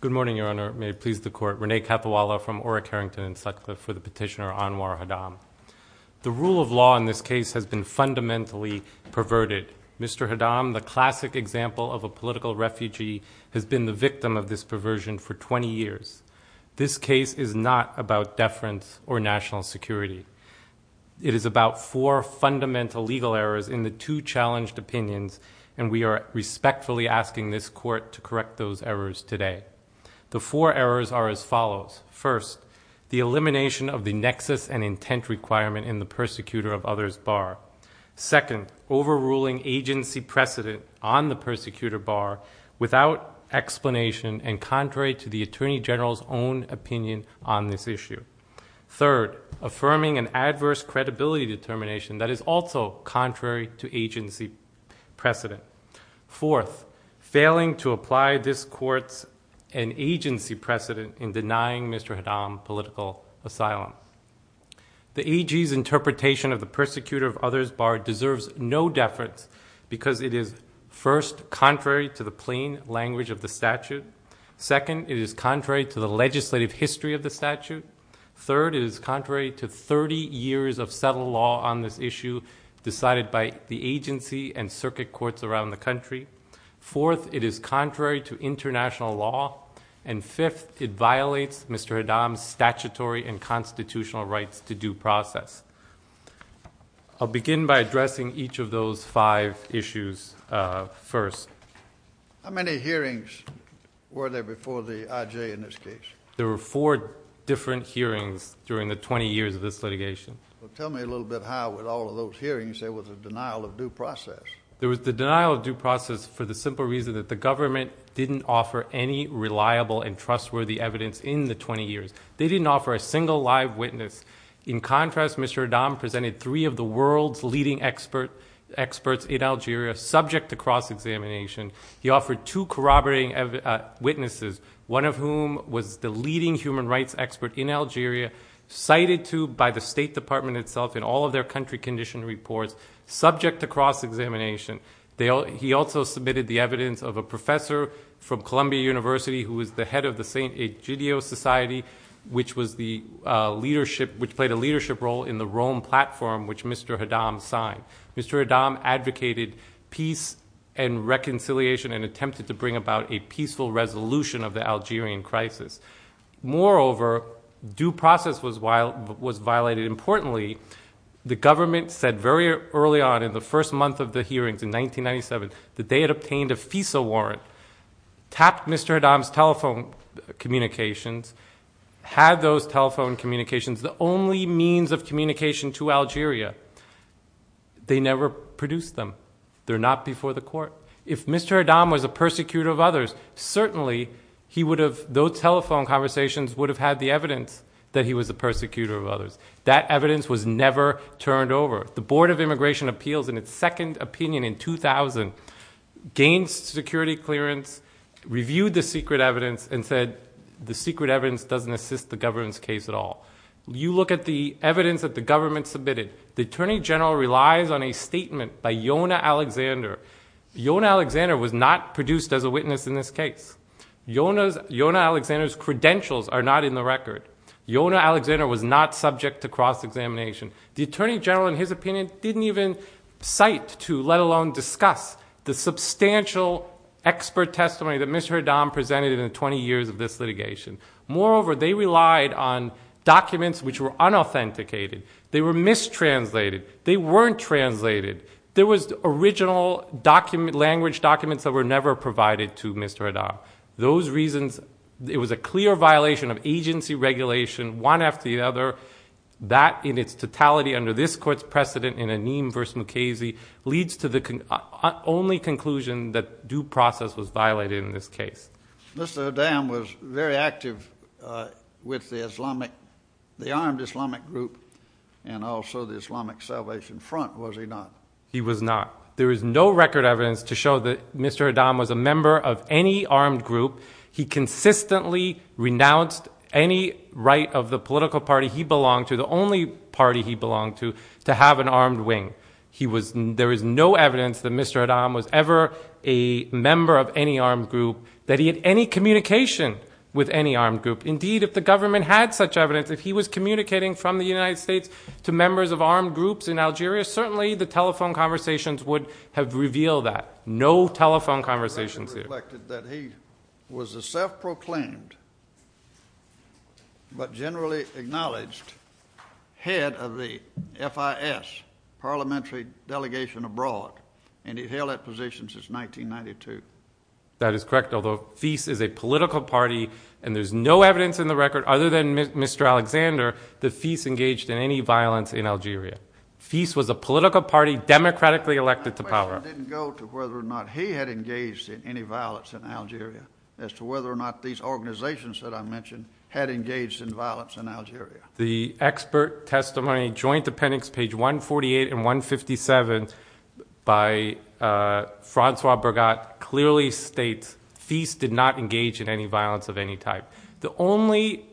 Good morning, Your Honor. May it please the Court. Rene Capuola from Orrick-Harrington and Sutcliffe for the petitioner Anwar Haddam. The rule of law in this case has been fundamentally perverted. Mr. Haddam, the classic example of a political refugee, has been the victim of this perversion for 20 years. This case is not about deference or national security. It is about four fundamental legal errors in the two challenged opinions, and we are respectfully asking this Court to correct those errors today. The four errors are as follows. First, the elimination of the nexus and intent requirement in the persecutor of others bar. Second, overruling agency precedent on the persecutor bar without explanation and contrary to the Attorney General's own opinion on this issue. Third, affirming an adverse credibility determination that is also contrary to agency precedent. Fourth, failing to apply this Court's agency precedent in denying Mr. Haddam political asylum. The AG's interpretation of the persecutor of others bar deserves no deference because it is first Second, it is contrary to the legislative history of the statute. Third, it is contrary to 30 years of settled law on this issue decided by the agency and circuit courts around the country. Fourth, it is contrary to international law. And fifth, it violates Mr. Haddam's statutory and constitutional rights to due process. I'll begin by addressing each of those five issues first. How many hearings were there before the IJ in this case? There were four different hearings during the 20 years of this litigation. Well, tell me a little bit how with all of those hearings there was a denial of due process. There was the denial of due process for the simple reason that the government didn't offer any reliable and trustworthy evidence in the 20 years. They didn't offer a single live witness. In contrast, Mr. Haddam presented three of the world's leading experts in Algeria subject to cross-examination. He offered two corroborating witnesses, one of whom was the leading human rights expert in Algeria cited to by the State Department itself in all of their country condition reports subject to cross-examination. He also submitted the evidence of a professor from Columbia University who was the head of the St. Egidio Society, which played a leadership role in the Rome platform which Mr. Haddam signed. Mr. Haddam advocated peace and reconciliation and attempted to bring about a peaceful resolution of the Algerian crisis. Moreover, due process was violated. Importantly, the government said very early on in the first month of the hearings in 1997 that they had obtained a FISA warrant, tapped Mr. Haddam's telephone communications, had those telephone communications, the only means of communication to Algeria. They never produced them. They're not before the court. If Mr. Haddam was a persecutor of others, certainly he would have, those telephone conversations would have had the evidence that he was a persecutor of others. That evidence was never turned over. The Board of Immigration Appeals in its second opinion in 2000 gained security clearance, reviewed the secret evidence and said the secret evidence doesn't assist the government's case at all. You look at the evidence that the government submitted, the Attorney General relies on a statement by Yonah Alexander. Yonah Alexander was not produced as a witness in this case. Yonah Alexander's credentials are not in the record. Yonah Alexander was not subject to cross-examination. The Attorney General in his opinion didn't even cite to let alone discuss the substantial expert testimony that Mr. Haddam presented in the 20 years of this litigation. Moreover, they relied on documents which were unauthenticated. They were mistranslated. They weren't translated. There was original language documents that were never provided to Mr. Haddam. Those reasons, it was a clear violation of agency regulation one after the other. That in its totality under this court's precedent in Anim v. Mukasey leads to the only conclusion that due process was violated in this case. Mr. Haddam was very active with the Islamic, the armed Islamic group and also the Islamic Salvation Front, was he not? He was not. There is no record evidence to show that Mr. Haddam was a member of any armed group. He consistently renounced any right of the political party he belonged to, the only party he belonged to, to have an armed wing. He was, there is no evidence that Mr. Haddam was ever a member of any armed group, that he had any communication with any armed group. Indeed, if the government had such evidence, if he was communicating from the United States to members of armed groups in Algeria, certainly the telephone conversations would have revealed that. No telephone conversations here. Mr. Haddam reflected that he was a self-proclaimed, but generally acknowledged, head of the FIS, parliamentary delegation abroad, and he held that position since 1992. That is correct, although FIS is a political party and there is no evidence in the record other than Mr. Alexander that FIS engaged in any violence in Algeria. FIS was a political party democratically elected to power. It did not go to whether or not he had engaged in any violence in Algeria, as to whether or not these organizations that I mentioned had engaged in violence in Algeria. The expert testimony, Joint Appendix, page 148 and 157, by Francois Bergotte, clearly states FIS did not engage in any violence of any type. The only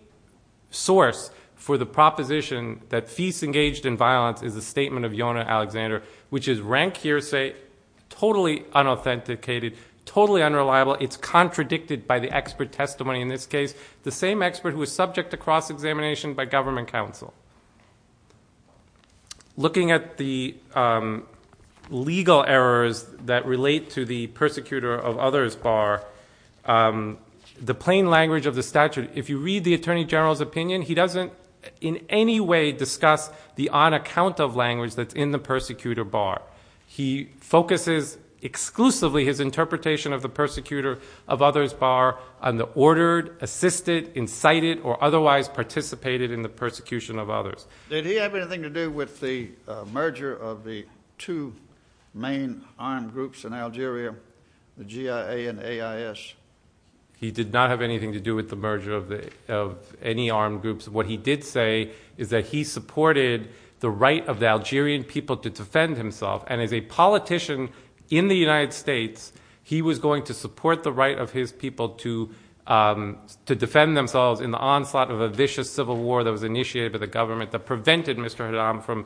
source for the proposition that FIS engaged in violence is a statement of Yonah Alexander, which is rank hearsay, totally unauthenticated, totally unreliable. It's contradicted by the expert testimony in this case, the same expert who was subject to cross-examination by government counsel. Looking at the legal errors that relate to the persecutor of others bar, the plain language of the statute, if you read the Attorney General's opinion, he doesn't in any way discuss the on-account of language that's in the persecutor bar. He focuses exclusively his interpretation of the persecutor of others bar on the ordered, assisted, incited, or otherwise participated in the persecution of others. Did he have anything to do with the merger of the two main armed groups in Algeria, the GIA and AIS? He did not have anything to do with the merger of any armed groups. What he did say is that he supported the right of the Algerian people to defend himself, and as a politician in the United States, he was going to support the right of his people to defend themselves in the onslaught of a vicious civil war that was initiated by the government that prevented Mr. Haddam from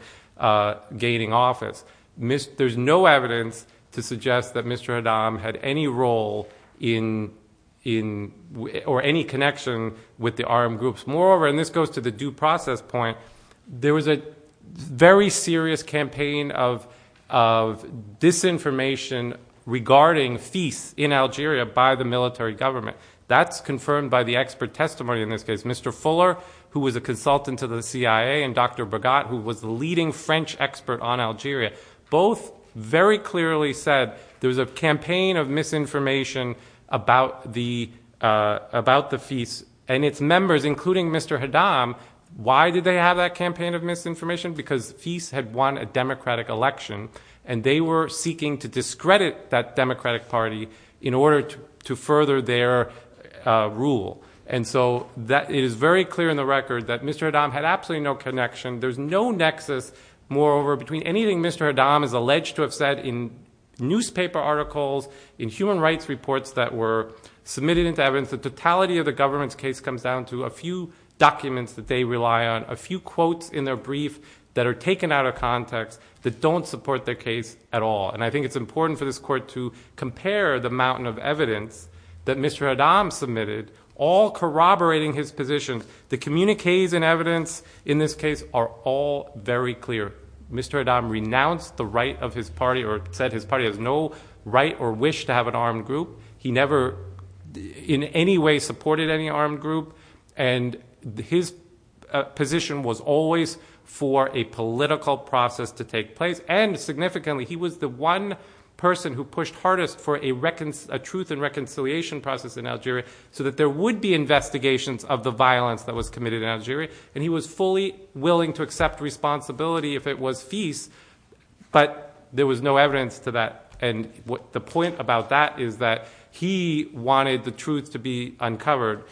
gaining office. There's no evidence to suggest that Mr. Haddam had any role in or any connection with the armed groups. Moreover, and this goes to the due process point, there was a very serious campaign of disinformation regarding feasts in Algeria by the military government. That's confirmed by the expert testimony in this case. Mr. Fuller, who was a consultant to the CIA, and Dr. Bregat, who was the leading French expert on Algeria, both very clearly said there was a campaign of misinformation about the feasts, and its members, including Mr. Haddam, why did they have that campaign of misinformation? Because feasts had won a democratic election, and they were seeking to discredit that democratic party in order to further their rule. So it is very clear in the record that Mr. Haddam had absolutely no connection. There's no nexus, moreover, between anything Mr. Haddam is alleged to have said in newspaper articles, in human rights reports that were submitted into evidence. The totality of the government's case comes down to a few documents that they rely on, a few quotes in their brief that are taken out of context that don't support their case at all. And I think it's important for this court to compare the mountain of evidence that Mr. Haddam submitted, all corroborating his position. The communiques and evidence in this case are all very clear. Mr. Haddam renounced the right of his party, or said his party has no right or wish to have an armed group. He never in any way supported any armed group. And his position was always for a political process to take place. And significantly, he was the one person who pushed hardest for a truth and reconciliation process in Algeria, so that there would be investigations of the violence that was committed in Algeria. And he was fully willing to accept responsibility if it was feast, but there was no evidence to that. And the point about that is that he wanted the truth to be uncovered,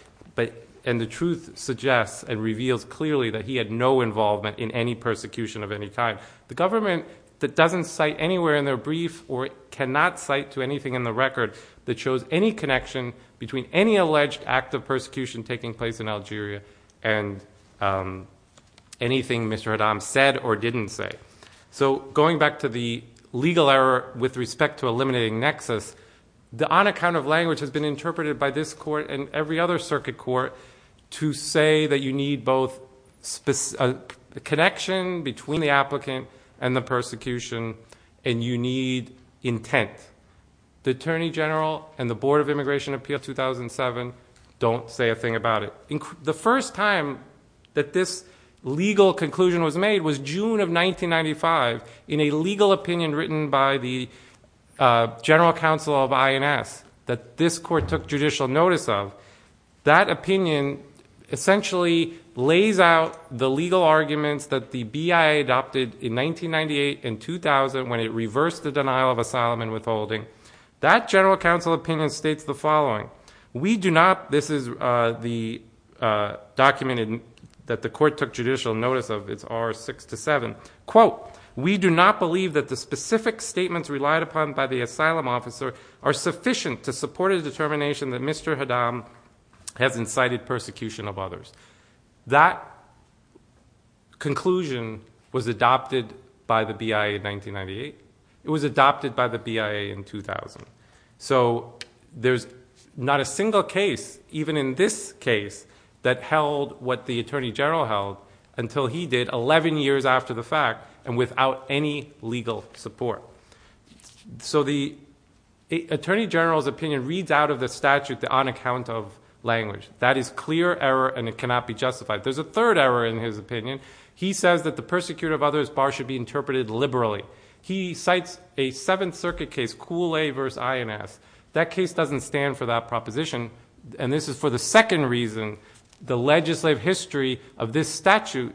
and the truth suggests and reveals clearly that he had no involvement in any persecution of any kind. The government that doesn't cite anywhere in their brief or cannot cite to anything in the record that shows any connection between any alleged act of persecution taking place in Algeria and anything Mr. Haddam said or didn't say. So going back to the legal error with respect to eliminating nexus, the on account of language has been interpreted by this court and every other circuit court to say that you need both connection between the applicant and the persecution, and you don't say a thing about it. The first time that this legal conclusion was made was June of 1995 in a legal opinion written by the general counsel of INS that this court took judicial notice of. That opinion essentially lays out the legal arguments that the BIA adopted in 1998 and 2000 when it reversed the denial of asylum and withholding. That general counsel opinion states the following. We do not, this is the document that the court took judicial notice of, it's R6-7, quote, we do not believe that the specific statements relied upon by the asylum officer are sufficient to support a determination that Mr. Haddam has incited persecution of others. That conclusion was adopted by the BIA in 1998. It was adopted by the BIA in 2000. So there's not a single case, even in this case, that held what the attorney general held until he did 11 years after the fact and without any legal support. So the attorney general's opinion reads out of the statute the on account of language. That is clear error and it cannot be justified. There's a third error in his opinion. He says that the persecutor of others bar should be interpreted liberally. He cites a Seventh Circuit case, Cooley v. INS. That case doesn't stand for that proposition. And this is for the second reason, the legislative history of this statute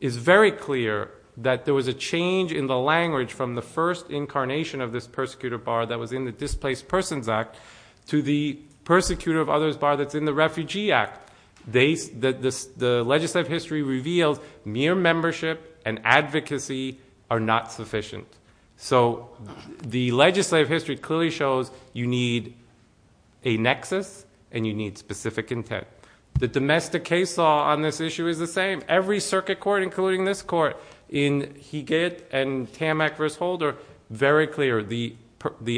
is very clear that there was a change in the language from the first incarnation of this persecutor bar that was in the Displaced Persons Act to the persecutor of others bar that's in the Refugee Act. The legislative history reveals mere membership and advocacy are not sufficient. So the legislative history clearly shows you need a nexus and you need specific intent. The domestic case law on this issue is the same. Every circuit court, including this court, in Hegitt and Tammack v. Holder, very clear. The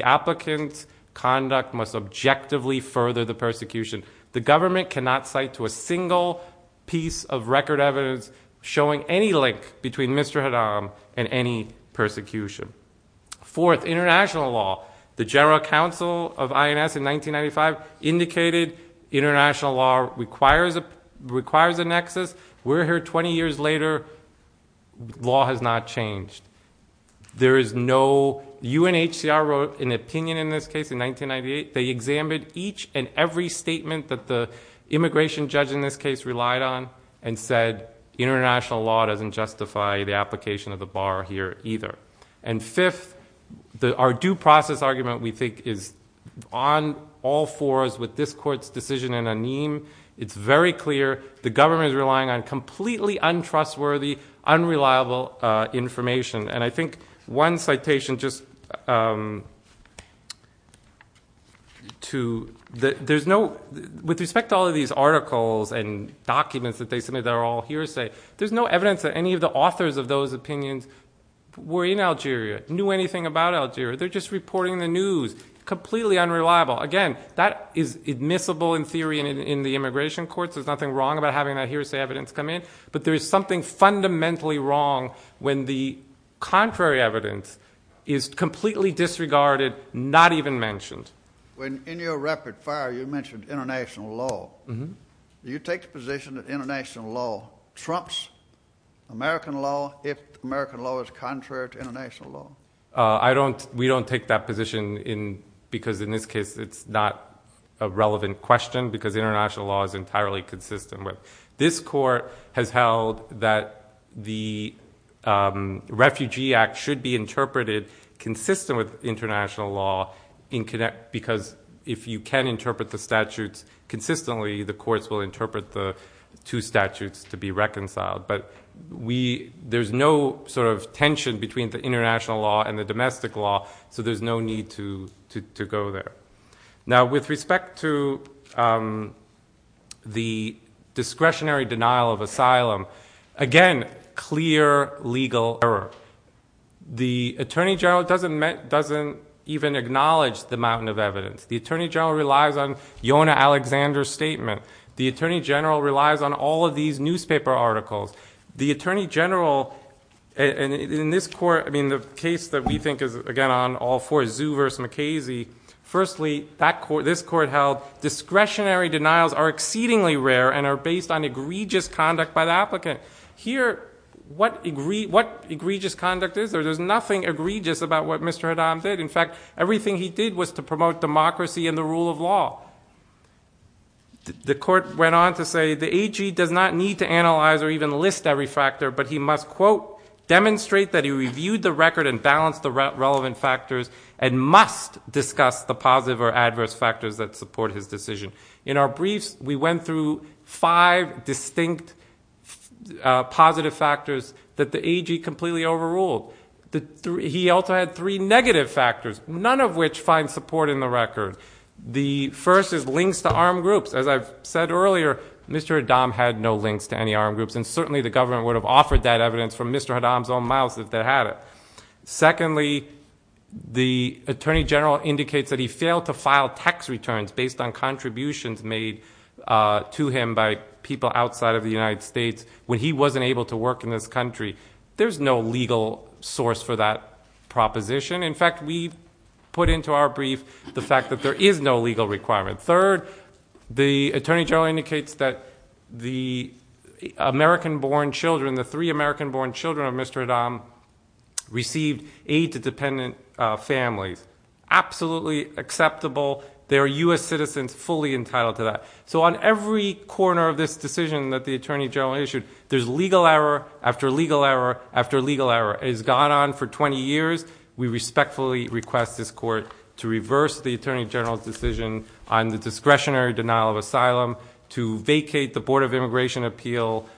applicant's conduct must objectively further the persecution. The government cannot cite to a single piece of record evidence showing any link between Mr. Haddam and any persecution. Fourth, international law. The general counsel of INS in 1995 indicated international law requires a nexus. We're here 20 years later. Law has not changed. There is no UNHCR wrote an opinion in this case in 1998. They examined each and every statement that the immigration judge in this case relied on and said international law doesn't justify the application of the bar here either. And fifth, our due process argument we think is on all fours with this court's decision in a name. It's very clear the government is relying on completely untrustworthy, unreliable information. And I think one citation just to, there's no, with respect to all of these articles and documents that they submit that are all hearsay, there's no evidence that any of the authors of those opinions were in Algeria, knew anything about Algeria. They're just reporting the news. Completely unreliable. Again, that is admissible in theory in the immigration courts. There's nothing wrong about having that hearsay evidence come in. But there is something fundamentally wrong when the contrary evidence is completely disregarded, not even mentioned. When in your rapid fire you mentioned international law, do you take the position that international law trumps American law if American law is contrary to international law? We don't take that position because in this case it's not a relevant question because international law is entirely consistent with. This court has held that the Refugee Act should be interpreted consistent with international law because if you can interpret the statutes consistently, the courts will interpret the two statutes to be reconciled. But we, there's no sort of tension between the international law and the domestic law, so there's no need to go there. Now, with respect to the discretionary denial of asylum, again, clear legal error. The Attorney General doesn't even acknowledge the mountain of evidence. The Attorney General relies on Yonah Alexander's statement. The Attorney General relies on all of these newspaper articles. The Attorney General, in this court, I mean the case that we think is, again, on all fours, Zuh versus McKasey, firstly, this court held discretionary denials are exceedingly rare and are based on egregious conduct by the applicant. Here, what egregious conduct is there? There's nothing egregious about what Mr. Haddam did. In fact, everything he did was to promote democracy and the rule of law. The court went on to say the AG does not need to analyze or even list every factor, but he must, quote, demonstrate that he reviewed the record and balanced the relevant factors and must discuss the positive or adverse factors that support his decision. In our briefs, we went through five distinct positive factors that the AG completely overruled. He also had three negative factors, none of which find support in the record. The first is links to armed groups. As I've said earlier, Mr. Haddam had no links to any armed groups and certainly the government would have offered that evidence from Mr. Haddam's own mouth if they had it. Secondly, the Attorney General indicates that he failed to file tax returns based on contributions made to him by people outside of the United States when he wasn't able to work in this country. There's no legal source for that proposition. In fact, we put into our brief the fact that there is no legal requirement. Third, the Attorney General indicates that the American-born children, the three American-born children of Mr. Haddam received aid to dependent families. Absolutely acceptable. They are U.S. citizens fully entitled to that. So on every corner of this decision that the Attorney General issued, there's legal error after legal error after legal error. It has gone on for 20 years. We respectfully request this court to reverse the Attorney General's decision on the discretionary denial of asylum to vacate the Board of Immigration Appeals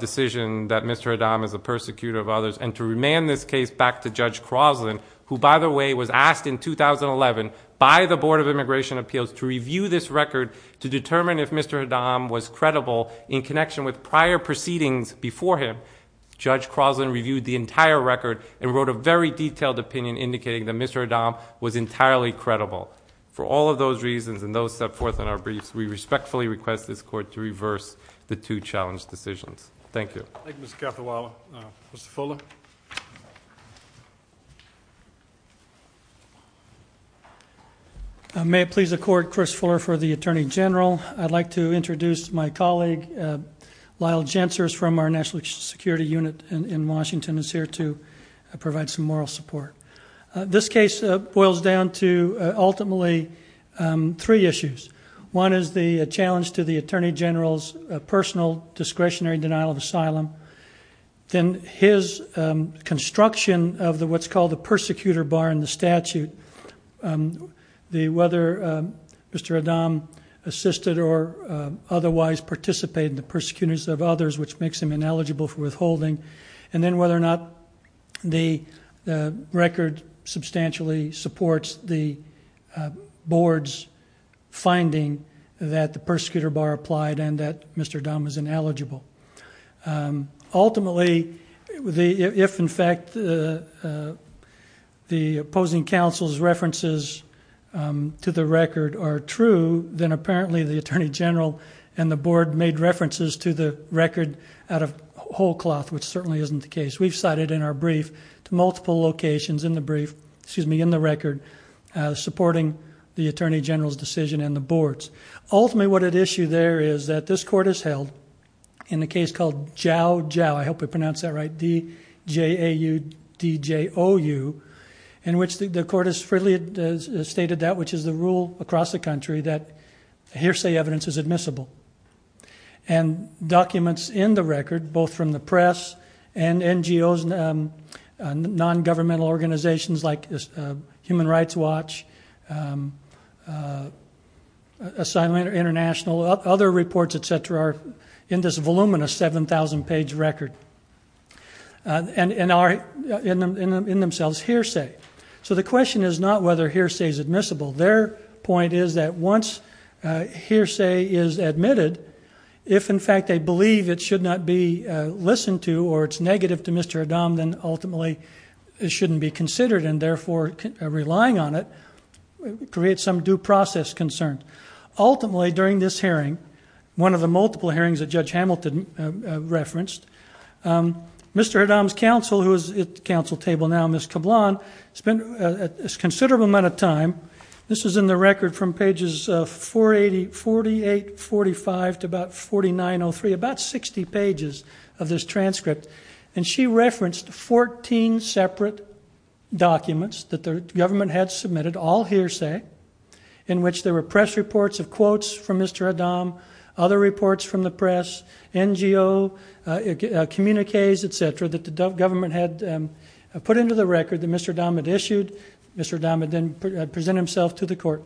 decision that Mr. Haddam is a persecutor of others and to remand this case back to Judge Croslin, who by the way was asked in 2011 by the Board of Immigration Appeals to review this record to determine if Mr. Haddam was credible in connection with prior proceedings before him. Judge Croslin reviewed the entire record and wrote a very detailed opinion indicating that Mr. Haddam was entirely credible. For all of those reasons and those set forth in our briefs, we respectfully request this court to reverse the two challenged decisions. Thank you. Thank you, Mr. Cathawala. Mr. Fuller. May it please the Court, Chris Fuller for the Attorney General. I'd like to introduce my colleague Lyle Jensers from our National Security Unit in Washington is here to provide some moral support. This case boils down to ultimately three issues. One is the challenge to the Attorney General's personal discretionary denial of asylum, then his construction of what's called the persecutor bar in the statute, whether Mr. Haddam assisted or otherwise participated in the persecutions of others, which makes him ineligible for withholding, and then whether or not the record substantially supports the board's finding that the persecutor bar applied and that Mr. Haddam was ineligible. Ultimately, if in fact the opposing counsel's references to the record are true, then apparently the Attorney General and the board made references to the record out of whole cloth, which certainly isn't the case. We've cited in our brief to multiple locations in the brief, excuse me, in the record, supporting the Attorney General's decision and the board's. Ultimately, what at issue there is that this court has held in a case called Jau Jau, I hope I pronounced that right, D-J-A-U-D-J-O-U, in which the court has freely stated that which is the rule across the country that hearsay evidence is admissible. Documents in the record, both from the press and NGOs and non-governmental organizations like Human Rights Watch, Asylum International, other reports, etc., are in this voluminous 7,000 page record, and are in themselves hearsay. The question is not whether hearsay is admissible. Their point is that once hearsay is admitted, if in fact they believe it should not be listened to or it's negative to Mr. Haddam, then ultimately it shouldn't be considered and therefore relying on it creates some due process concern. Ultimately, during this hearing, one of the multiple hearings that Judge Hamilton referenced, Mr. Haddam's counsel table now, Ms. Cablon, spent a considerable amount of time, this is in the record from pages 48, 45 to about 4903, about 60 pages of this transcript. She referenced 14 separate documents that the government had submitted, all hearsay, in which there were press reports of quotes from Mr. Haddam, other reports from the press, NGO communiques, etc., that the government had put into the record that Mr. Haddam had issued, Mr. Haddam had then presented himself to the court.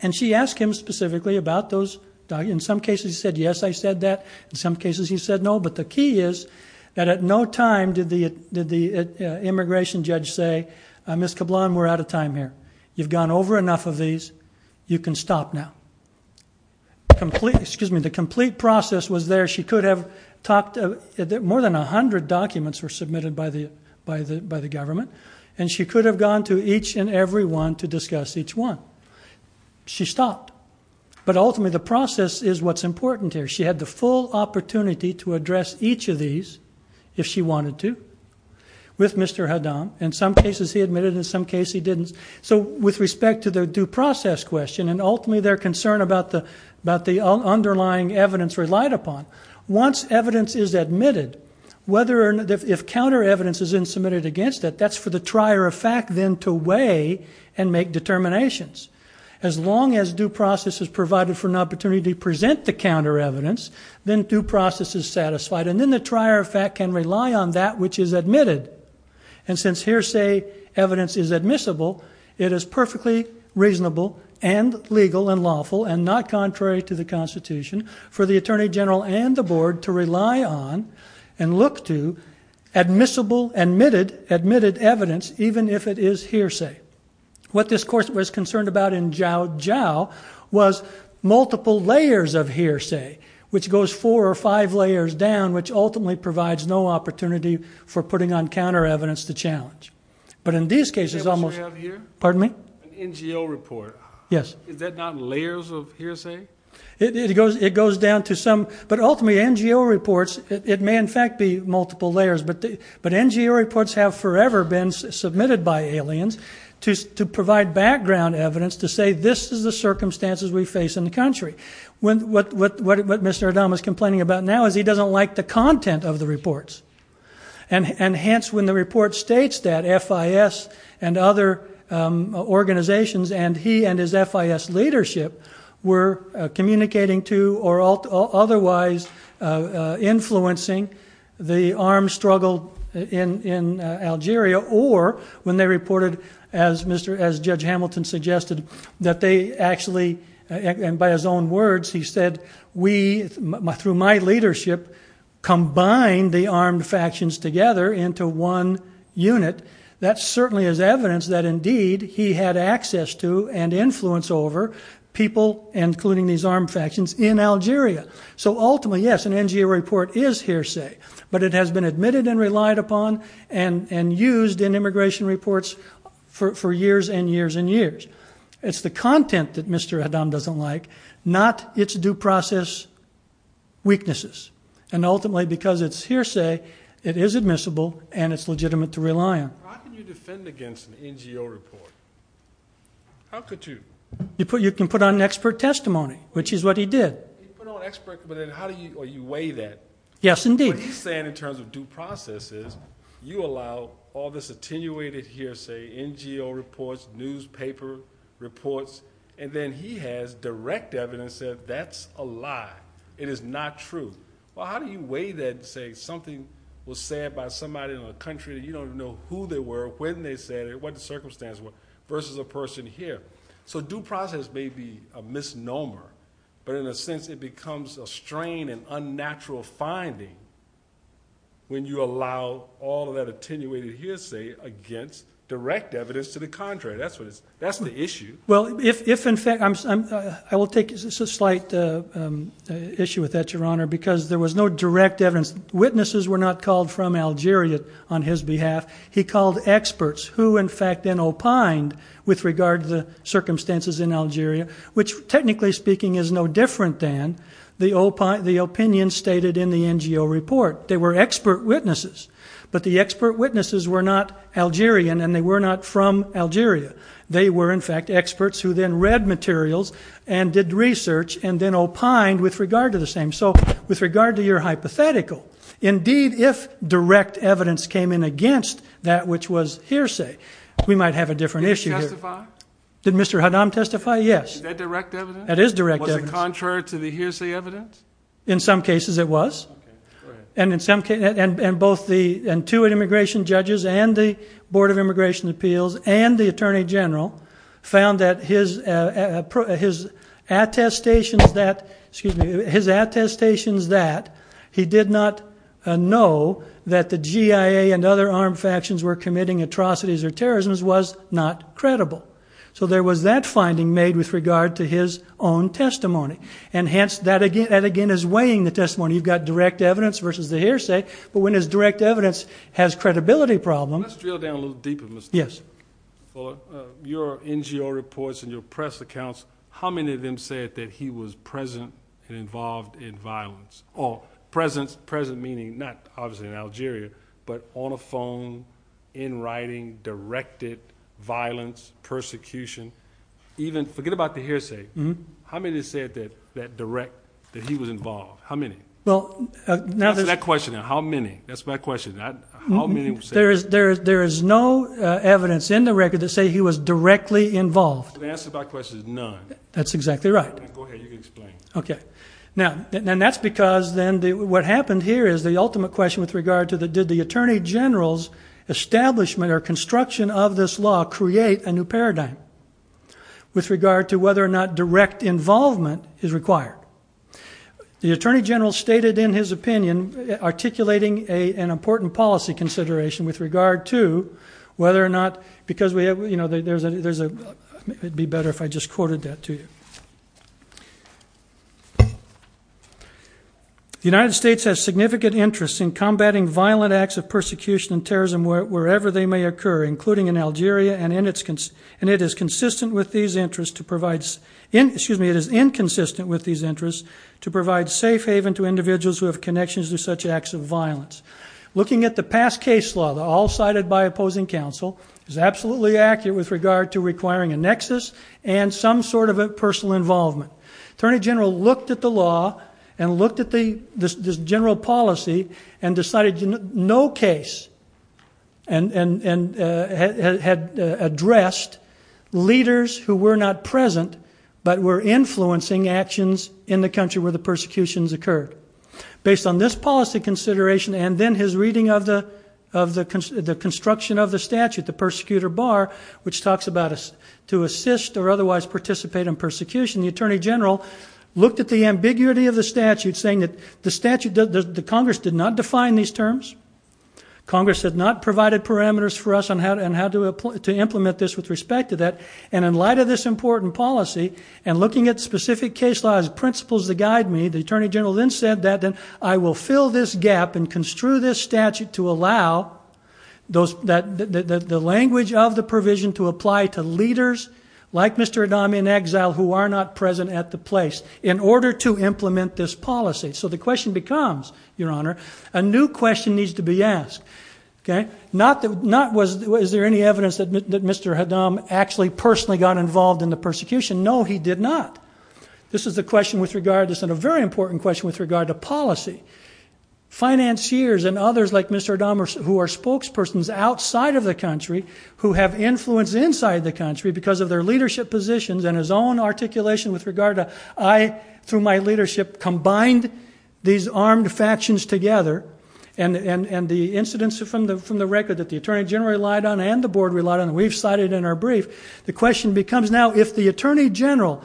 And she asked him specifically about those documents. In some cases he said, yes, I said that. In some cases he said no. But the key is that at no time did the immigration judge say, Ms. Cablon, we're out of time here. You've gone over enough of these. You can stop now. The complete process was there. She could have talked more than 100 documents were submitted by the government, and she could have gone to each and every one to discuss each one. She stopped. But ultimately the process is what's important here. She had the full opportunity to address each of these, if she wanted to, with Mr. Haddam. In some cases he admitted, in some cases he didn't. So with respect to the due process question, and ultimately their concern about the underlying evidence relied upon, once evidence is admitted, whether or not, if counter evidence is then submitted against it, that's for the trier of fact then to weigh and make determinations. As long as due process is provided for an opportunity to present the counter evidence, then due process is satisfied. And then the trier of fact can rely on that which is admitted. And since hearsay evidence is admissible, it is perfectly reasonable and legal and lawful and not contrary to the Constitution for the and look to admissible, admitted evidence, even if it is hearsay. What this course was concerned about in Jiao Jiao was multiple layers of hearsay, which goes four or five layers down, which ultimately provides no opportunity for putting on counter evidence to challenge. But in these cases, almost, pardon me, yes, it goes, it goes down to some, but ultimately NGO reports, it may in fact be multiple layers, but NGO reports have forever been submitted by aliens to provide background evidence to say this is the circumstances we face in the country. What Mr. Adam is complaining about now is he doesn't like the content of the reports. And hence when the report states that FIS and other organizations and he and his FIS leadership were communicating to or otherwise influencing the armed struggle in Algeria or when they reported, as Judge Hamilton suggested, that they actually, and by his own words, he said, we, through my leadership, combined the armed factions together into one unit, that certainly is evidence that indeed he had access to and influence over people, including these armed factions, in Algeria. So ultimately, yes, an NGO report is hearsay, but it has been admitted and relied upon and used in immigration reports for years and years and years. It's the content that Mr. Adam doesn't like, not its due process weaknesses, and ultimately because it's hearsay, it is admissible and it's legitimate to rely on. How can you defend against an NGO report? How could you? You can put on expert testimony, which is what he did. You put on expert, but then how do you, or you weigh that? Yes, indeed. What he's saying in terms of due process is you allow all this attenuated hearsay, NGO reports, newspaper reports, and then he has direct evidence that that's a lie. It is not true. Well, how do you weigh that and say something was said by somebody in a country that you don't know who they were, when they said it, what the circumstances were, versus a person here? So due process may be a misnomer, but in a sense it becomes a strain and unnatural finding when you allow all of that attenuated hearsay against direct evidence to the contrary. That's the issue. Well, if in fact, I will take, it's a slight issue with that, Your Honor, because there was no direct evidence. Witnesses were not called from Algeria on his behalf. He called experts who in fact then opined with regard to the circumstances in Algeria, which technically speaking is no different than the opinion stated in the NGO report. They were expert witnesses, but the expert witnesses were not Algerian and they were not from Algeria. They were in fact experts who then read materials and did research and then opined with regard to the same. So with regard to your hypothetical, indeed, if direct evidence came in against that which was hearsay, we might have a different issue here. Did it testify? Did Mr. Hadam testify? Yes. Is that direct evidence? That is direct evidence. Was it contrary to the hearsay evidence? In some cases it was. And in some cases, and both the Intuit immigration judges and the Board of Immigration Appeals and the Attorney General found that his attestations that, excuse me, his attestations that he did not know that the G.I.A. and other armed factions were committing atrocities or terrorism was not credible. So there was that finding made with regard to his own testimony. And hence, that again is weighing the testimony. You've got direct evidence versus the hearsay. But when it's direct evidence has credibility problems. Let's drill down a little deeper, Mr. Hadam. Yes. For your NGO reports and your press accounts, how many of them said that he was present and involved in violence? Present meaning not obviously in Algeria, but on a phone, in writing, directed violence, persecution. Even forget about the hearsay. How many said that direct, that he was involved? How many? Answer that question. How many? That's my question. How many? There is no evidence in the record to say he was directly involved. So the answer to my question is none. That's exactly right. Go ahead. You can explain. Okay. Now, and that's because then what happened here is the ultimate question with regard to did the Attorney General's establishment or construction of this law create a new paradigm with regard to whether or not direct involvement is required? The Attorney General stated in his opinion articulating an important policy consideration with regard to whether or not, because we have, you know, there's a, there's a, it'd be better if I just quoted that to you. The United States has significant interest in combating violent acts of persecution and terrorism wherever they may occur, including in Algeria and in its, and it is consistent with these interests to provide, excuse me, it is inconsistent with these interests to provide safe haven to individuals who have connections to such acts of violence. Looking at the past case law, all cited by opposing counsel, is absolutely accurate with regard to requiring a nexus and some sort of a personal involvement. Attorney General looked at the law and looked at the, this general policy and decided no case and, and, and had addressed leaders who were not present but were influencing actions in the country where the persecutions occurred. Based on this policy consideration and then his reading of the, of the construction of the statute, the persecutor bar, which in the Attorney General, looked at the ambiguity of the statute saying that the statute does, the Congress did not define these terms. Congress had not provided parameters for us on how to, on how to, to implement this with respect to that. And in light of this important policy and looking at specific case laws, principles that guide me, the Attorney General then said that then I will fill this gap and construe this statute to allow those, that, that, that were not present at the place in order to implement this policy. So the question becomes, Your Honor, a new question needs to be asked. Okay? Not that, not was, is there any evidence that Mr. Haddam actually personally got involved in the persecution? No, he did not. This is the question with regard to, this is a very important question with regard to policy. Financiers and others like Mr. Haddam who are spokespersons outside of the country, who have influence inside the country because of their leadership positions and his own articulation with regard to, I, through my leadership, combined these armed factions together and, and, and the incidents from the, from the record that the Attorney General relied on and the Board relied on, we've cited in our brief. The question becomes now, if the Attorney General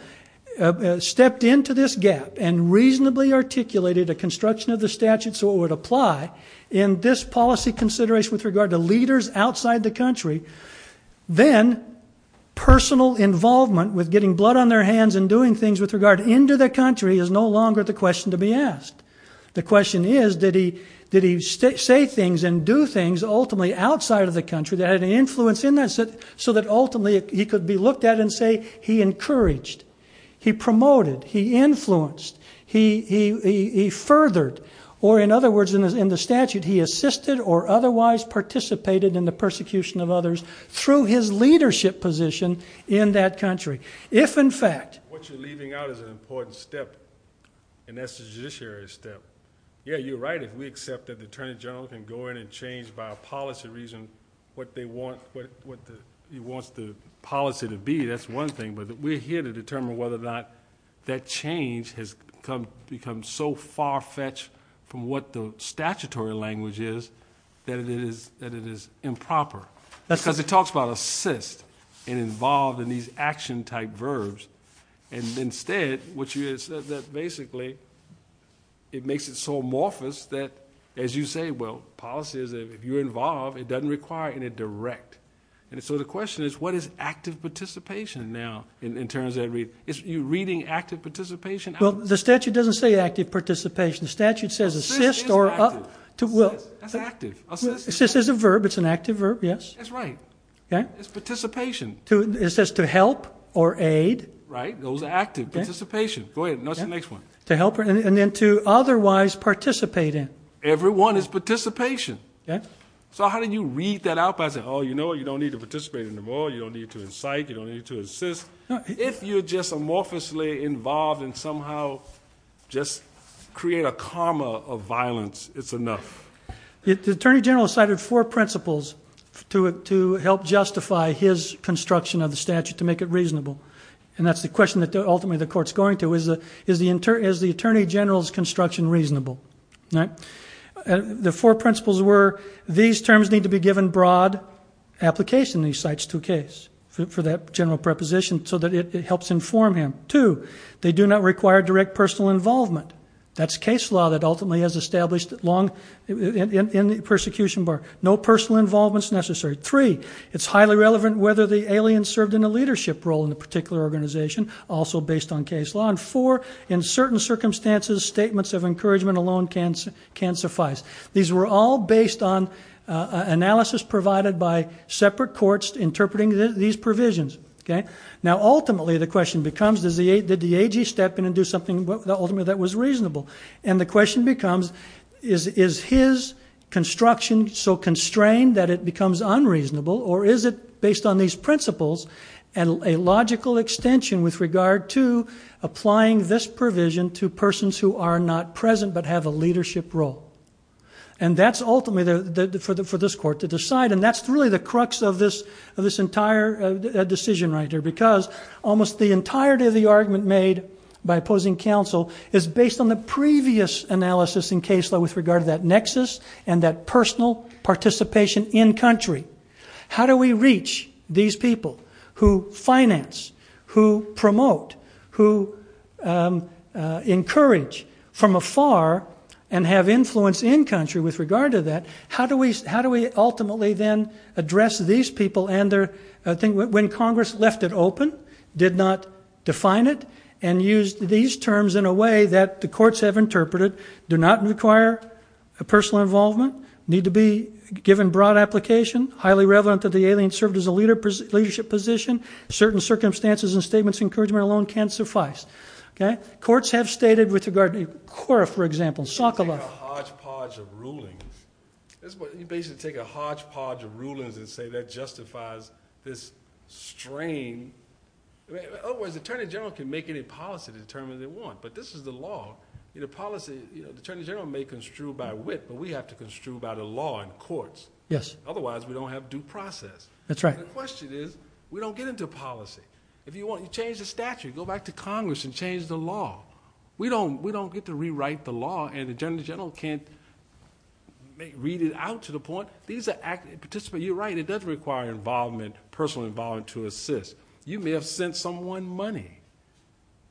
stepped into this gap and reasonably articulated a construction of the statute so it would apply in this policy consideration with regard to leaders outside the country, then personal involvement with getting blood on their hands and doing things with regard into the country is no longer the question to be asked. The question is, did he, did he stay, say things and do things ultimately outside of the country that had an influence in that, so that ultimately he could be looked at and say he encouraged, he promoted, he influenced, he, he, he furthered, or in other words, in the statute, he assisted or otherwise participated in the persecution of others through his leadership position in that country. If, in fact, what you're leaving out is an important step and that's the judiciary step. Yeah, you're right if we accept that the Attorney General can go in and change by a policy reason what they want, what, what the, he wants the policy to be, that's one thing, but we're here to determine whether or not that change has come, become so far-fetched from what the statutory language is that it is, that it is improper. That's because it talks about assist and involved in these action type verbs and instead what you said that basically it makes it so amorphous that as you say, well, policy is if you're involved it doesn't require any direct and so the question is what is active participation now in, in terms that read, is you reading active participation? Well, the statute doesn't say active participation, the statute says assist or assist. That's active. Assist is a verb, it's an active verb, yes. That's right. Okay. It's participation. It says to help or aid. Right, those are active, participation. Go ahead, what's the next one? To help and then to otherwise participate in. Every one is participation. Okay. So how do you read that out by saying, oh, you know, you don't need to participate anymore, you don't need to incite, you don't need to assist. If you're just amorphously involved and somehow just create a karma of violence, it's enough. The Attorney General cited four principles to help justify his construction of the statute to make it reasonable and that's the question that ultimately the court's going to, is the Attorney General's construction reasonable? Right? The four principles were these terms need to be given broad application in these for that general preposition so that it helps inform him. Two, they do not require direct personal involvement. That's case law that ultimately has established long in the persecution bar. No personal involvement is necessary. Three, it's highly relevant whether the alien served in a leadership role in a particular organization, also based on case law. And four, in certain circumstances, statements of encouragement alone can suffice. These were all based on analysis provided by separate courts interpreting these provisions. Okay? Now ultimately the question becomes, did the AG step in and do something ultimately that was reasonable? And the question becomes, is his construction so constrained that it becomes unreasonable or is it based on these principles and a logical extension with regard to applying this provision to persons who are not present but have a leadership role? And that's ultimately for this court to decide and that's really the crux of this entire decision right here because almost the entirety of the argument made by opposing counsel is based on the previous analysis in case law with regard to that nexus and that personal participation in country. How do we reach these people who finance, who promote, who encourage from afar and have influence in country with regard to that? How do we ultimately then address these people and their, I think when Congress left it open, did not define it and used these terms in a way that the courts have interpreted do not require a personal involvement, need to be given broad application, highly relevant that the alien served as a leader, leadership position, certain circumstances and statements of encouragement alone can't suffice. Courts have stated with regard to Cora for example, Sokoloff. You take a hodgepodge of rulings. You basically take a hodgepodge of rulings and say that justifies this strain. Otherwise the Attorney General can make any policy determine they want but this is the law. The Attorney General may construe by wit but we have to construe by the law in courts. Otherwise we don't have due process. That's right. The question is, we don't get into policy. If you want to change the statute, go back to Congress and change the law. We don't get to rewrite the law and the Attorney General can't read it out to the point. You're right, it does require involvement, personal involvement to assist. You may have sent someone money.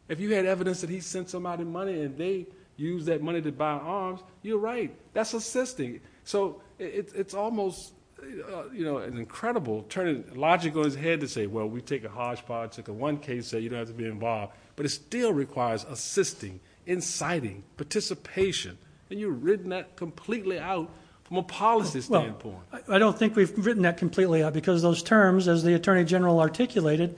If you had evidence that he sent somebody money and they used that money to buy arms, you're right, that's assisting. So it's almost an incredible turning logic on his head to say, well we take a hodgepodge, take a one case so you don't have to be involved. But it still requires assisting, inciting, participation. You've written that completely out from a policy standpoint. I don't think we've written that completely out because those terms as the Attorney General articulated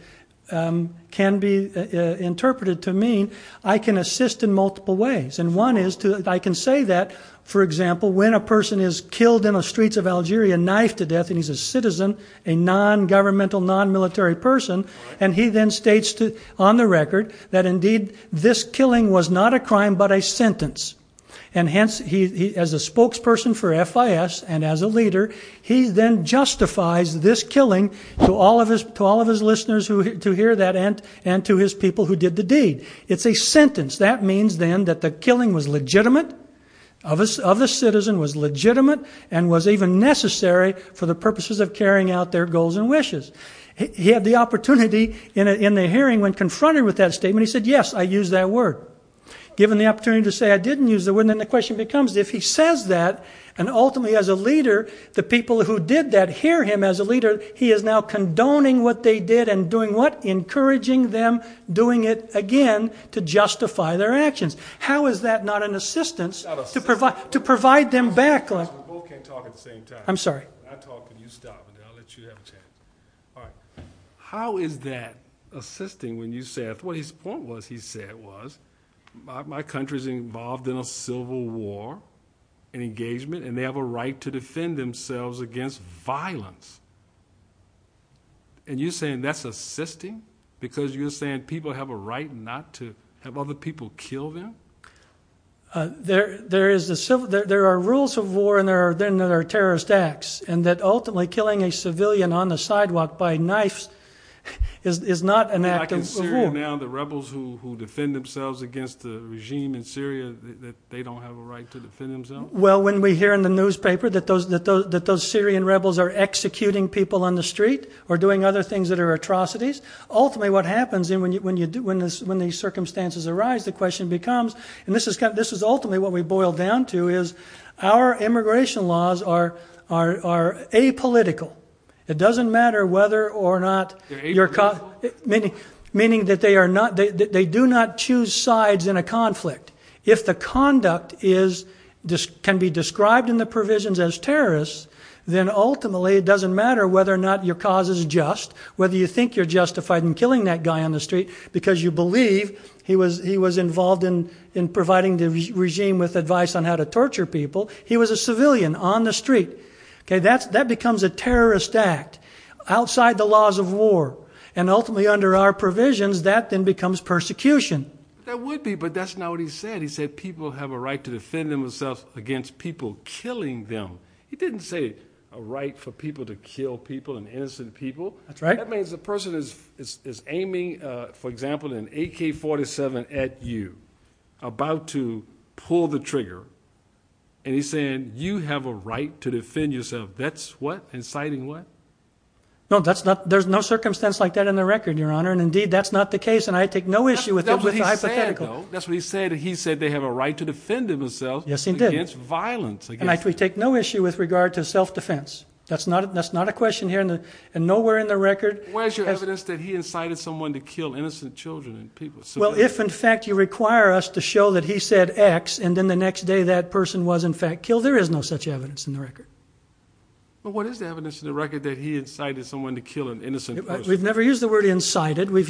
can be interpreted to mean I can assist in multiple ways. One is I can say that, for example, when a person is killed in the streets of Algeria, knifed to death and he's a citizen, a non-governmental, non-military person, and he then states on the record that indeed this killing was not a crime but a sentence. And hence, as a spokesperson for FIS and as a leader, he then justifies this killing to all of his listeners to hear that and to his people who did the deed. It's a sentence. That means then that the killing was legitimate, of a citizen, was legitimate, and was even necessary for the purposes of carrying out their goals and wishes. He had the opportunity in the hearing when confronted with that statement, he said yes, I used that word. Given the opportunity to say I didn't use the word, then the question becomes if he says that, and ultimately as a leader, the people who did that hear him as a leader, he is now condoning what they did and doing what? Encouraging them doing it again to justify their actions. How is that not an assistance to provide them back? We both can't talk at the same time. I'm sorry. I talk and you stop and I'll let you have a chance. All right. How is that assisting when you say, what his point was, he said was, my country's involved in a civil war and engagement and they have a right to defend themselves against violence. And you're saying that's assisting? Because you're saying people have a right not to have other people kill them? There are rules of war and there are terrorist acts, and that ultimately killing a civilian on the sidewalk by knife is not an act of war. Like in Syria now, the rebels who defend themselves against the regime in Syria, that they don't have a right to defend themselves? Well, when we hear in the newspaper that those Syrian rebels are executing people on the ground for atrocities, ultimately what happens when these circumstances arise, the question becomes, and this is ultimately what we boil down to, is our immigration laws are apolitical. It doesn't matter whether or not your cause, meaning that they are not, they do not choose sides in a conflict. If the conduct can be described in the provisions as terrorists, then ultimately it doesn't matter whether or not your cause is just, whether you think you're justified in killing that guy on the street because you believe he was involved in providing the regime with advice on how to torture people, he was a civilian on the street. That becomes a terrorist act outside the laws of war, and ultimately under our provisions that then becomes persecution. That would be, but that's not what he said. He said people have a right to defend themselves against people killing them. He didn't say a right for people to kill people and innocent people. That's right. That means the person is aiming, for example, an AK-47 at you, about to pull the trigger, and he's saying you have a right to defend yourself. That's what, inciting what? No, that's not, there's no circumstance like that in the record, your honor, and indeed that's not the case, and I take no issue with the hypothetical. That's what he said, though. That's what he said. He said they have a right to defend themselves. Yes, he did. Against violence. And I take no issue with regard to self-defense. That's not a question here, and nowhere in the record. Where's your evidence that he incited someone to kill innocent children and people? Well, if in fact you require us to show that he said X, and then the next day that person was in fact killed, there is no such evidence in the record. What is the evidence in the record that he incited someone to kill an innocent person? We've never used the word incited, we've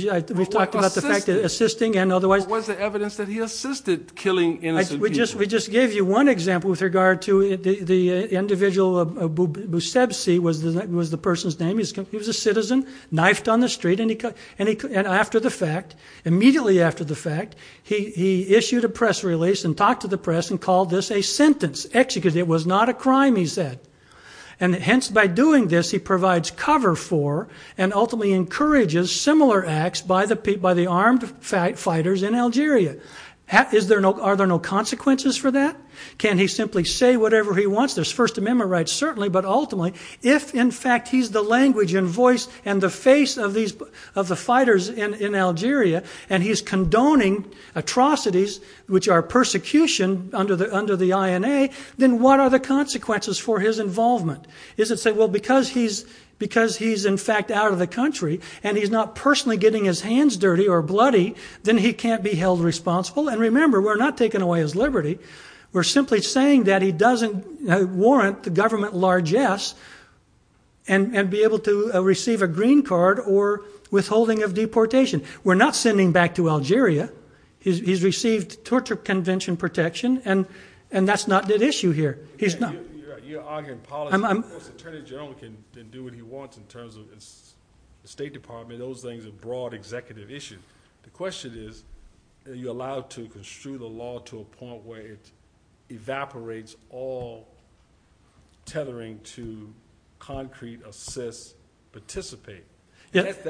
talked about the fact that assisting and otherwise. What's the evidence that he assisted killing innocent people? We just gave you one example with regard to the individual, Busebsi was the person's name. He was a citizen, knifed on the street, and after the fact, immediately after the fact, he issued a press release and talked to the press and called this a sentence, executed. It was not a crime, he said. And hence, by doing this, he provides cover for and ultimately encourages similar acts by the armed fighters in Algeria. Are there no consequences for that? Can he simply say whatever he wants? There's First Amendment rights, certainly, but ultimately, if in fact he's the language and voice and the face of the fighters in Algeria, and he's condoning atrocities, which are persecution under the INA, then what are the consequences for his involvement? Is it to say, well, because he's in fact out of the country, and he's not personally getting his hands dirty or bloody, then he can't be held responsible. And remember, we're not taking away his liberty. We're simply saying that he doesn't warrant the government largesse and be able to receive a green card or withholding of deportation. We're not sending back to Algeria. He's received torture convention protection, and that's not at issue here. He's not- You're arguing policy. Of course, the Attorney General can do what he wants in terms of the State Department. I mean, those things are broad executive issues. The question is, are you allowed to construe the law to a point where it evaporates all tethering to concrete, assess, participate? That's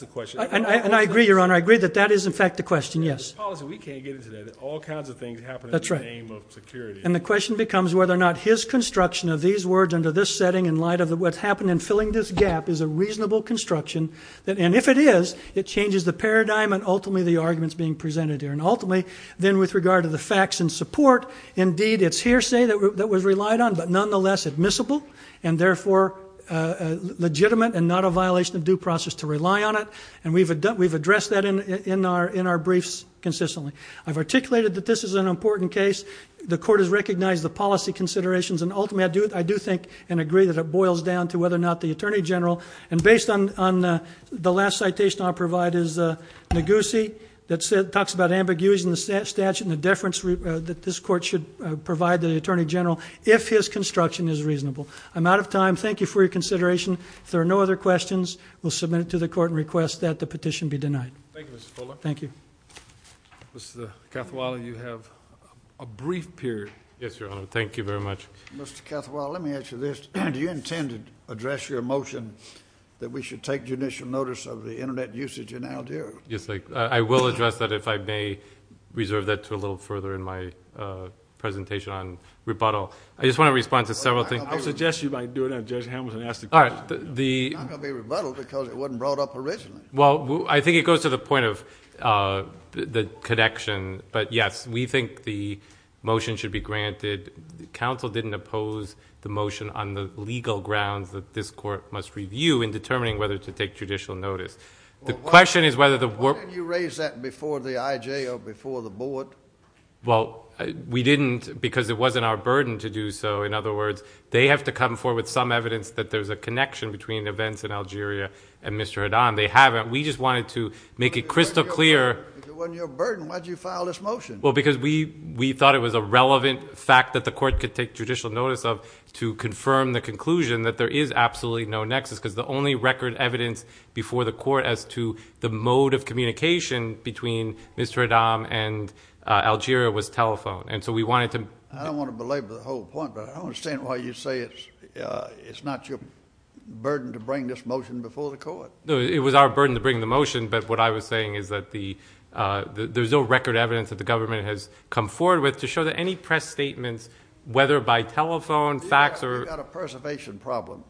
the question. And I agree, Your Honor. I agree that that is, in fact, the question. Yes. The policy, we can't get into that. All kinds of things happen- That's right.... in the name of security. And the question becomes whether or not his construction of these words under this setting in light of what's happened in filling this gap is a reasonable construction. And if it is, it changes the paradigm and, ultimately, the arguments being presented here. And, ultimately, then with regard to the facts and support, indeed, it's hearsay that was relied on, but nonetheless admissible and, therefore, legitimate and not a violation of due process to rely on it. And we've addressed that in our briefs consistently. I've articulated that this is an important case. The Court has recognized the policy considerations, and, ultimately, I do think and agree that it boils down to whether or not the Attorney General, and based on the last citation I'll provide is Ngozi, that talks about ambiguities in the statute and the deference that this Court should provide to the Attorney General if his construction is reasonable. I'm out of time. Thank you for your consideration. If there are no other questions, we'll submit it to the Court and request that the petition be denied. Thank you, Mr. Fuller. Thank you. Mr. Cathawala, you have a brief period. Yes, Your Honor. Thank you very much. Mr. Cathawala, let me ask you this. Do you intend to address your motion that we should take judicial notice of the Internet usage in Aldera? Yes, I will address that if I may reserve that to a little further in my presentation on rebuttal. I just want to respond to several things. I suggest you might do it now. Judge Hamilton asked the question. All right. It's not going to be a rebuttal because it wasn't brought up originally. Well, I think it goes to the point of the connection, but, yes, we think the motion should be granted. The counsel didn't oppose the motion on the legal grounds that this Court must review in determining whether to take judicial notice. The question is whether the work... Why didn't you raise that before the IJ or before the Board? Well, we didn't because it wasn't our burden to do so. In other words, they have to come forward with some evidence that there's a connection between events in Algeria and Mr. Haddad. They haven't. We just wanted to make it crystal clear... If it wasn't your burden, why did you file this motion? Well, because we thought it was a relevant fact that the Court could take judicial notice of to confirm the conclusion that there is absolutely no nexus because the only record evidence before the Court as to the mode of communication between Mr. Haddad and Algeria was telephone. And so we wanted to... I don't want to belabor the whole point, but I don't understand why you say it's not your burden to bring this motion before the Court. It was our burden to bring the motion, but what I was saying is that there's no record evidence that the government has come forward with to show that any press statements, whether by telephone, fax, or... We've got a preservation problem.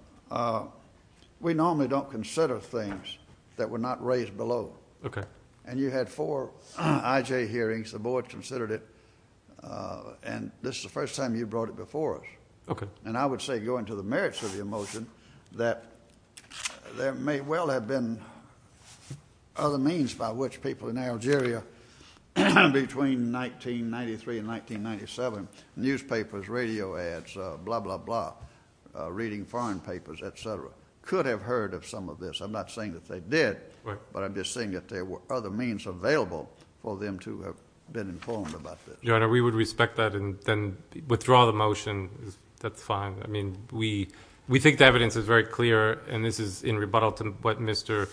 We normally don't consider things that were not raised below. And you had four IJ hearings. The Board considered it, and this is the first time you brought it before us. And I would say, going to the merits of the motion, that there may well have been other means by which people in Algeria, between 1993 and 1997, newspapers, radio ads, blah, blah, blah, reading foreign papers, et cetera, could have heard of some of this. I'm not saying that they did, but I'm just saying that there were other means available for them to have been informed about this. Your Honor, we would respect that and then withdraw the motion. That's fine. I mean, we think the evidence is very clear, and this is in rebuttal to what Mr.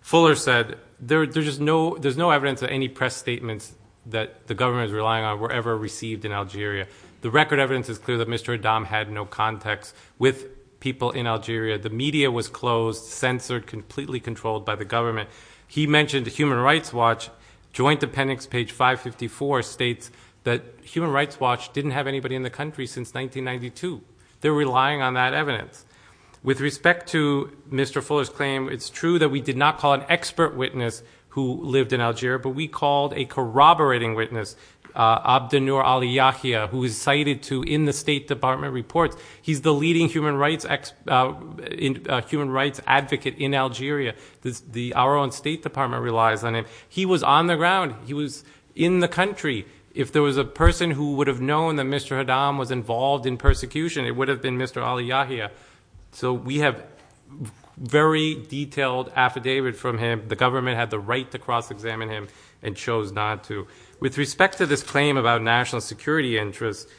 Fuller said. There's no evidence that any press statements that the government is relying on were ever received in Algeria. The record evidence is clear that Mr. Adam had no contacts with people in Algeria. The media was closed, censored, completely controlled by the government. He mentioned the Human Rights Watch. Joint Appendix, page 554, states that Human Rights Watch didn't have anybody in the country since 1992. They're relying on that evidence. With respect to Mr. Fuller's claim, it's true that we did not call an expert witness who lived in Algeria, but we called a corroborating witness, Abdenour Ali Yahia, who is cited to in the State Department reports. He's the leading human rights advocate in Algeria. Our own State Department relies on him. He was on the ground. He was in the country. If there was a person who would have known that Mr. Adam was involved in persecution, it would have been Mr. Ali Yahia. So we have a very detailed affidavit from him. The government had the right to cross-examine him and chose not to. With respect to this claim about national security interests,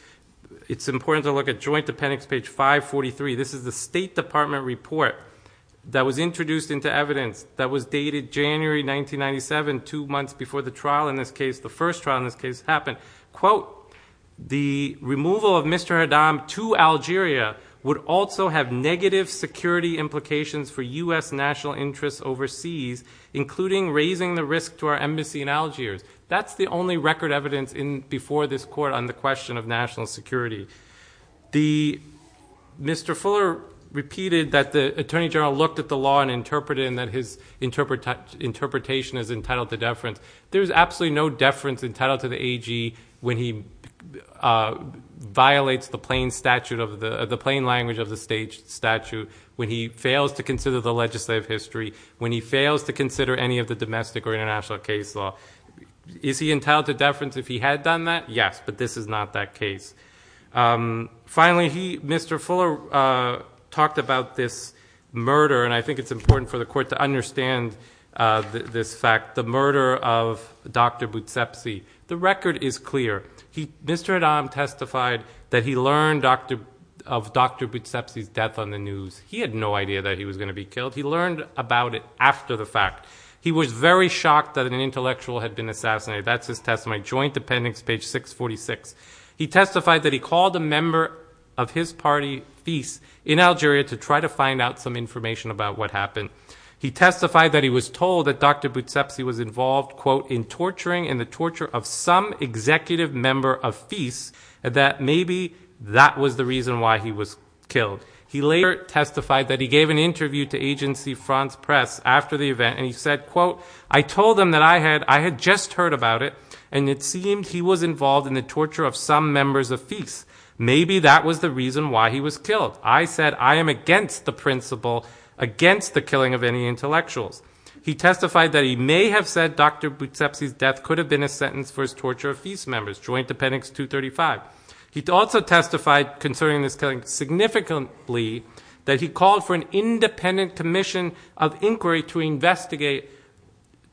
it's important to look at Joint Appendix, page 543. This is the State Department report that was introduced into evidence that was dated January 1997, two months before the trial in this case, the first trial in this case, happened. Quote, the removal of Mr. Adam to Algeria would also have negative security implications for U.S. national interests overseas, including raising the risk to our embassy in Algiers. That's the only record evidence before this court on the question of national security. Mr. Fuller repeated that the Attorney General looked at the law and interpreted it and that his interpretation is entitled to deference. There's absolutely no deference entitled to the AG when he violates the plain language of the statute, when he fails to consider the legislative history, when he fails to consider any of the domestic or international case law. Is he entitled to deference if he had done that? Yes, but this is not that case. Finally, Mr. Fuller talked about this murder, and I think it's important for the court to hear the testimony of Dr. Boutsepsi. The record is clear. Mr. Adam testified that he learned of Dr. Boutsepsi's death on the news. He had no idea that he was going to be killed. He learned about it after the fact. He was very shocked that an intellectual had been assassinated. That's his testimony. Joint appendix, page 646. He testified that he called a member of his party, FIS, in Algeria to try to find out some information about what happened. He testified that he was told that Dr. Boutsepsi was involved, quote, in torturing and the torture of some executive member of FIS, that maybe that was the reason why he was killed. He later testified that he gave an interview to Agency France-Presse after the event, and he said, quote, I told them that I had just heard about it, and it seemed he was involved in the torture of some members of FIS. Maybe that was the reason why he was killed. I said I am against the principle, against the killing of any intellectuals. He testified that he may have said Dr. Boutsepsi's death could have been a sentence for his torture of FIS members. Joint appendix 235. He also testified concerning this killing significantly that he called for an independent commission of inquiry to investigate,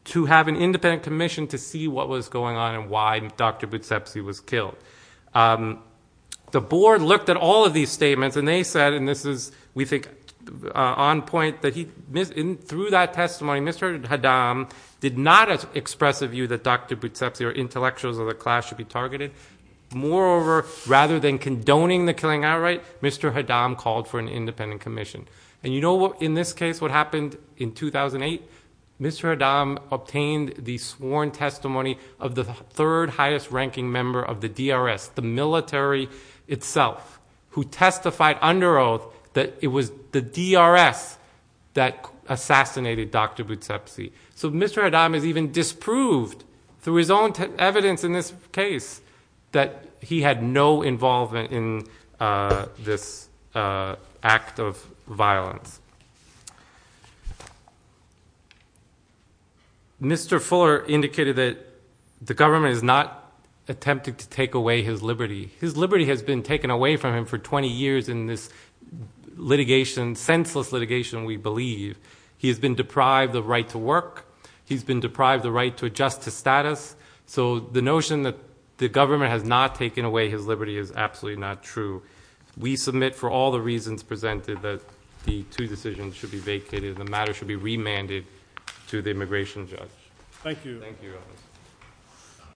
to have an independent commission to see what was going on and why Dr. Boutsepsi was killed. The board looked at all of these statements, and they said, and this is, we think, on point, that through that testimony, Mr. Haddam did not express a view that Dr. Boutsepsi or intellectuals of the class should be targeted. Moreover, rather than condoning the killing outright, Mr. Haddam called for an independent commission. And you know what, in this case, what happened in 2008? Mr. Haddam obtained the sworn testimony of the third highest ranking member of the DRS, the military itself, who testified under oath that it was the DRS that assassinated Dr. Boutsepsi. So Mr. Haddam is even disproved through his own evidence in this case that he had no involvement in this act of violence. Mr. Fuller indicated that the government is not attempting to take away his liberty. His liberty has been taken away from him for 20 years in this litigation, senseless litigation, we believe. He has been deprived the right to work. He's been deprived the right to adjust to status. So the notion that the government has not taken away his liberty is absolutely not true. We submit for all the reasons presented that the two decisions should be vacated, the matter should be remanded to the immigration judge. Thank you.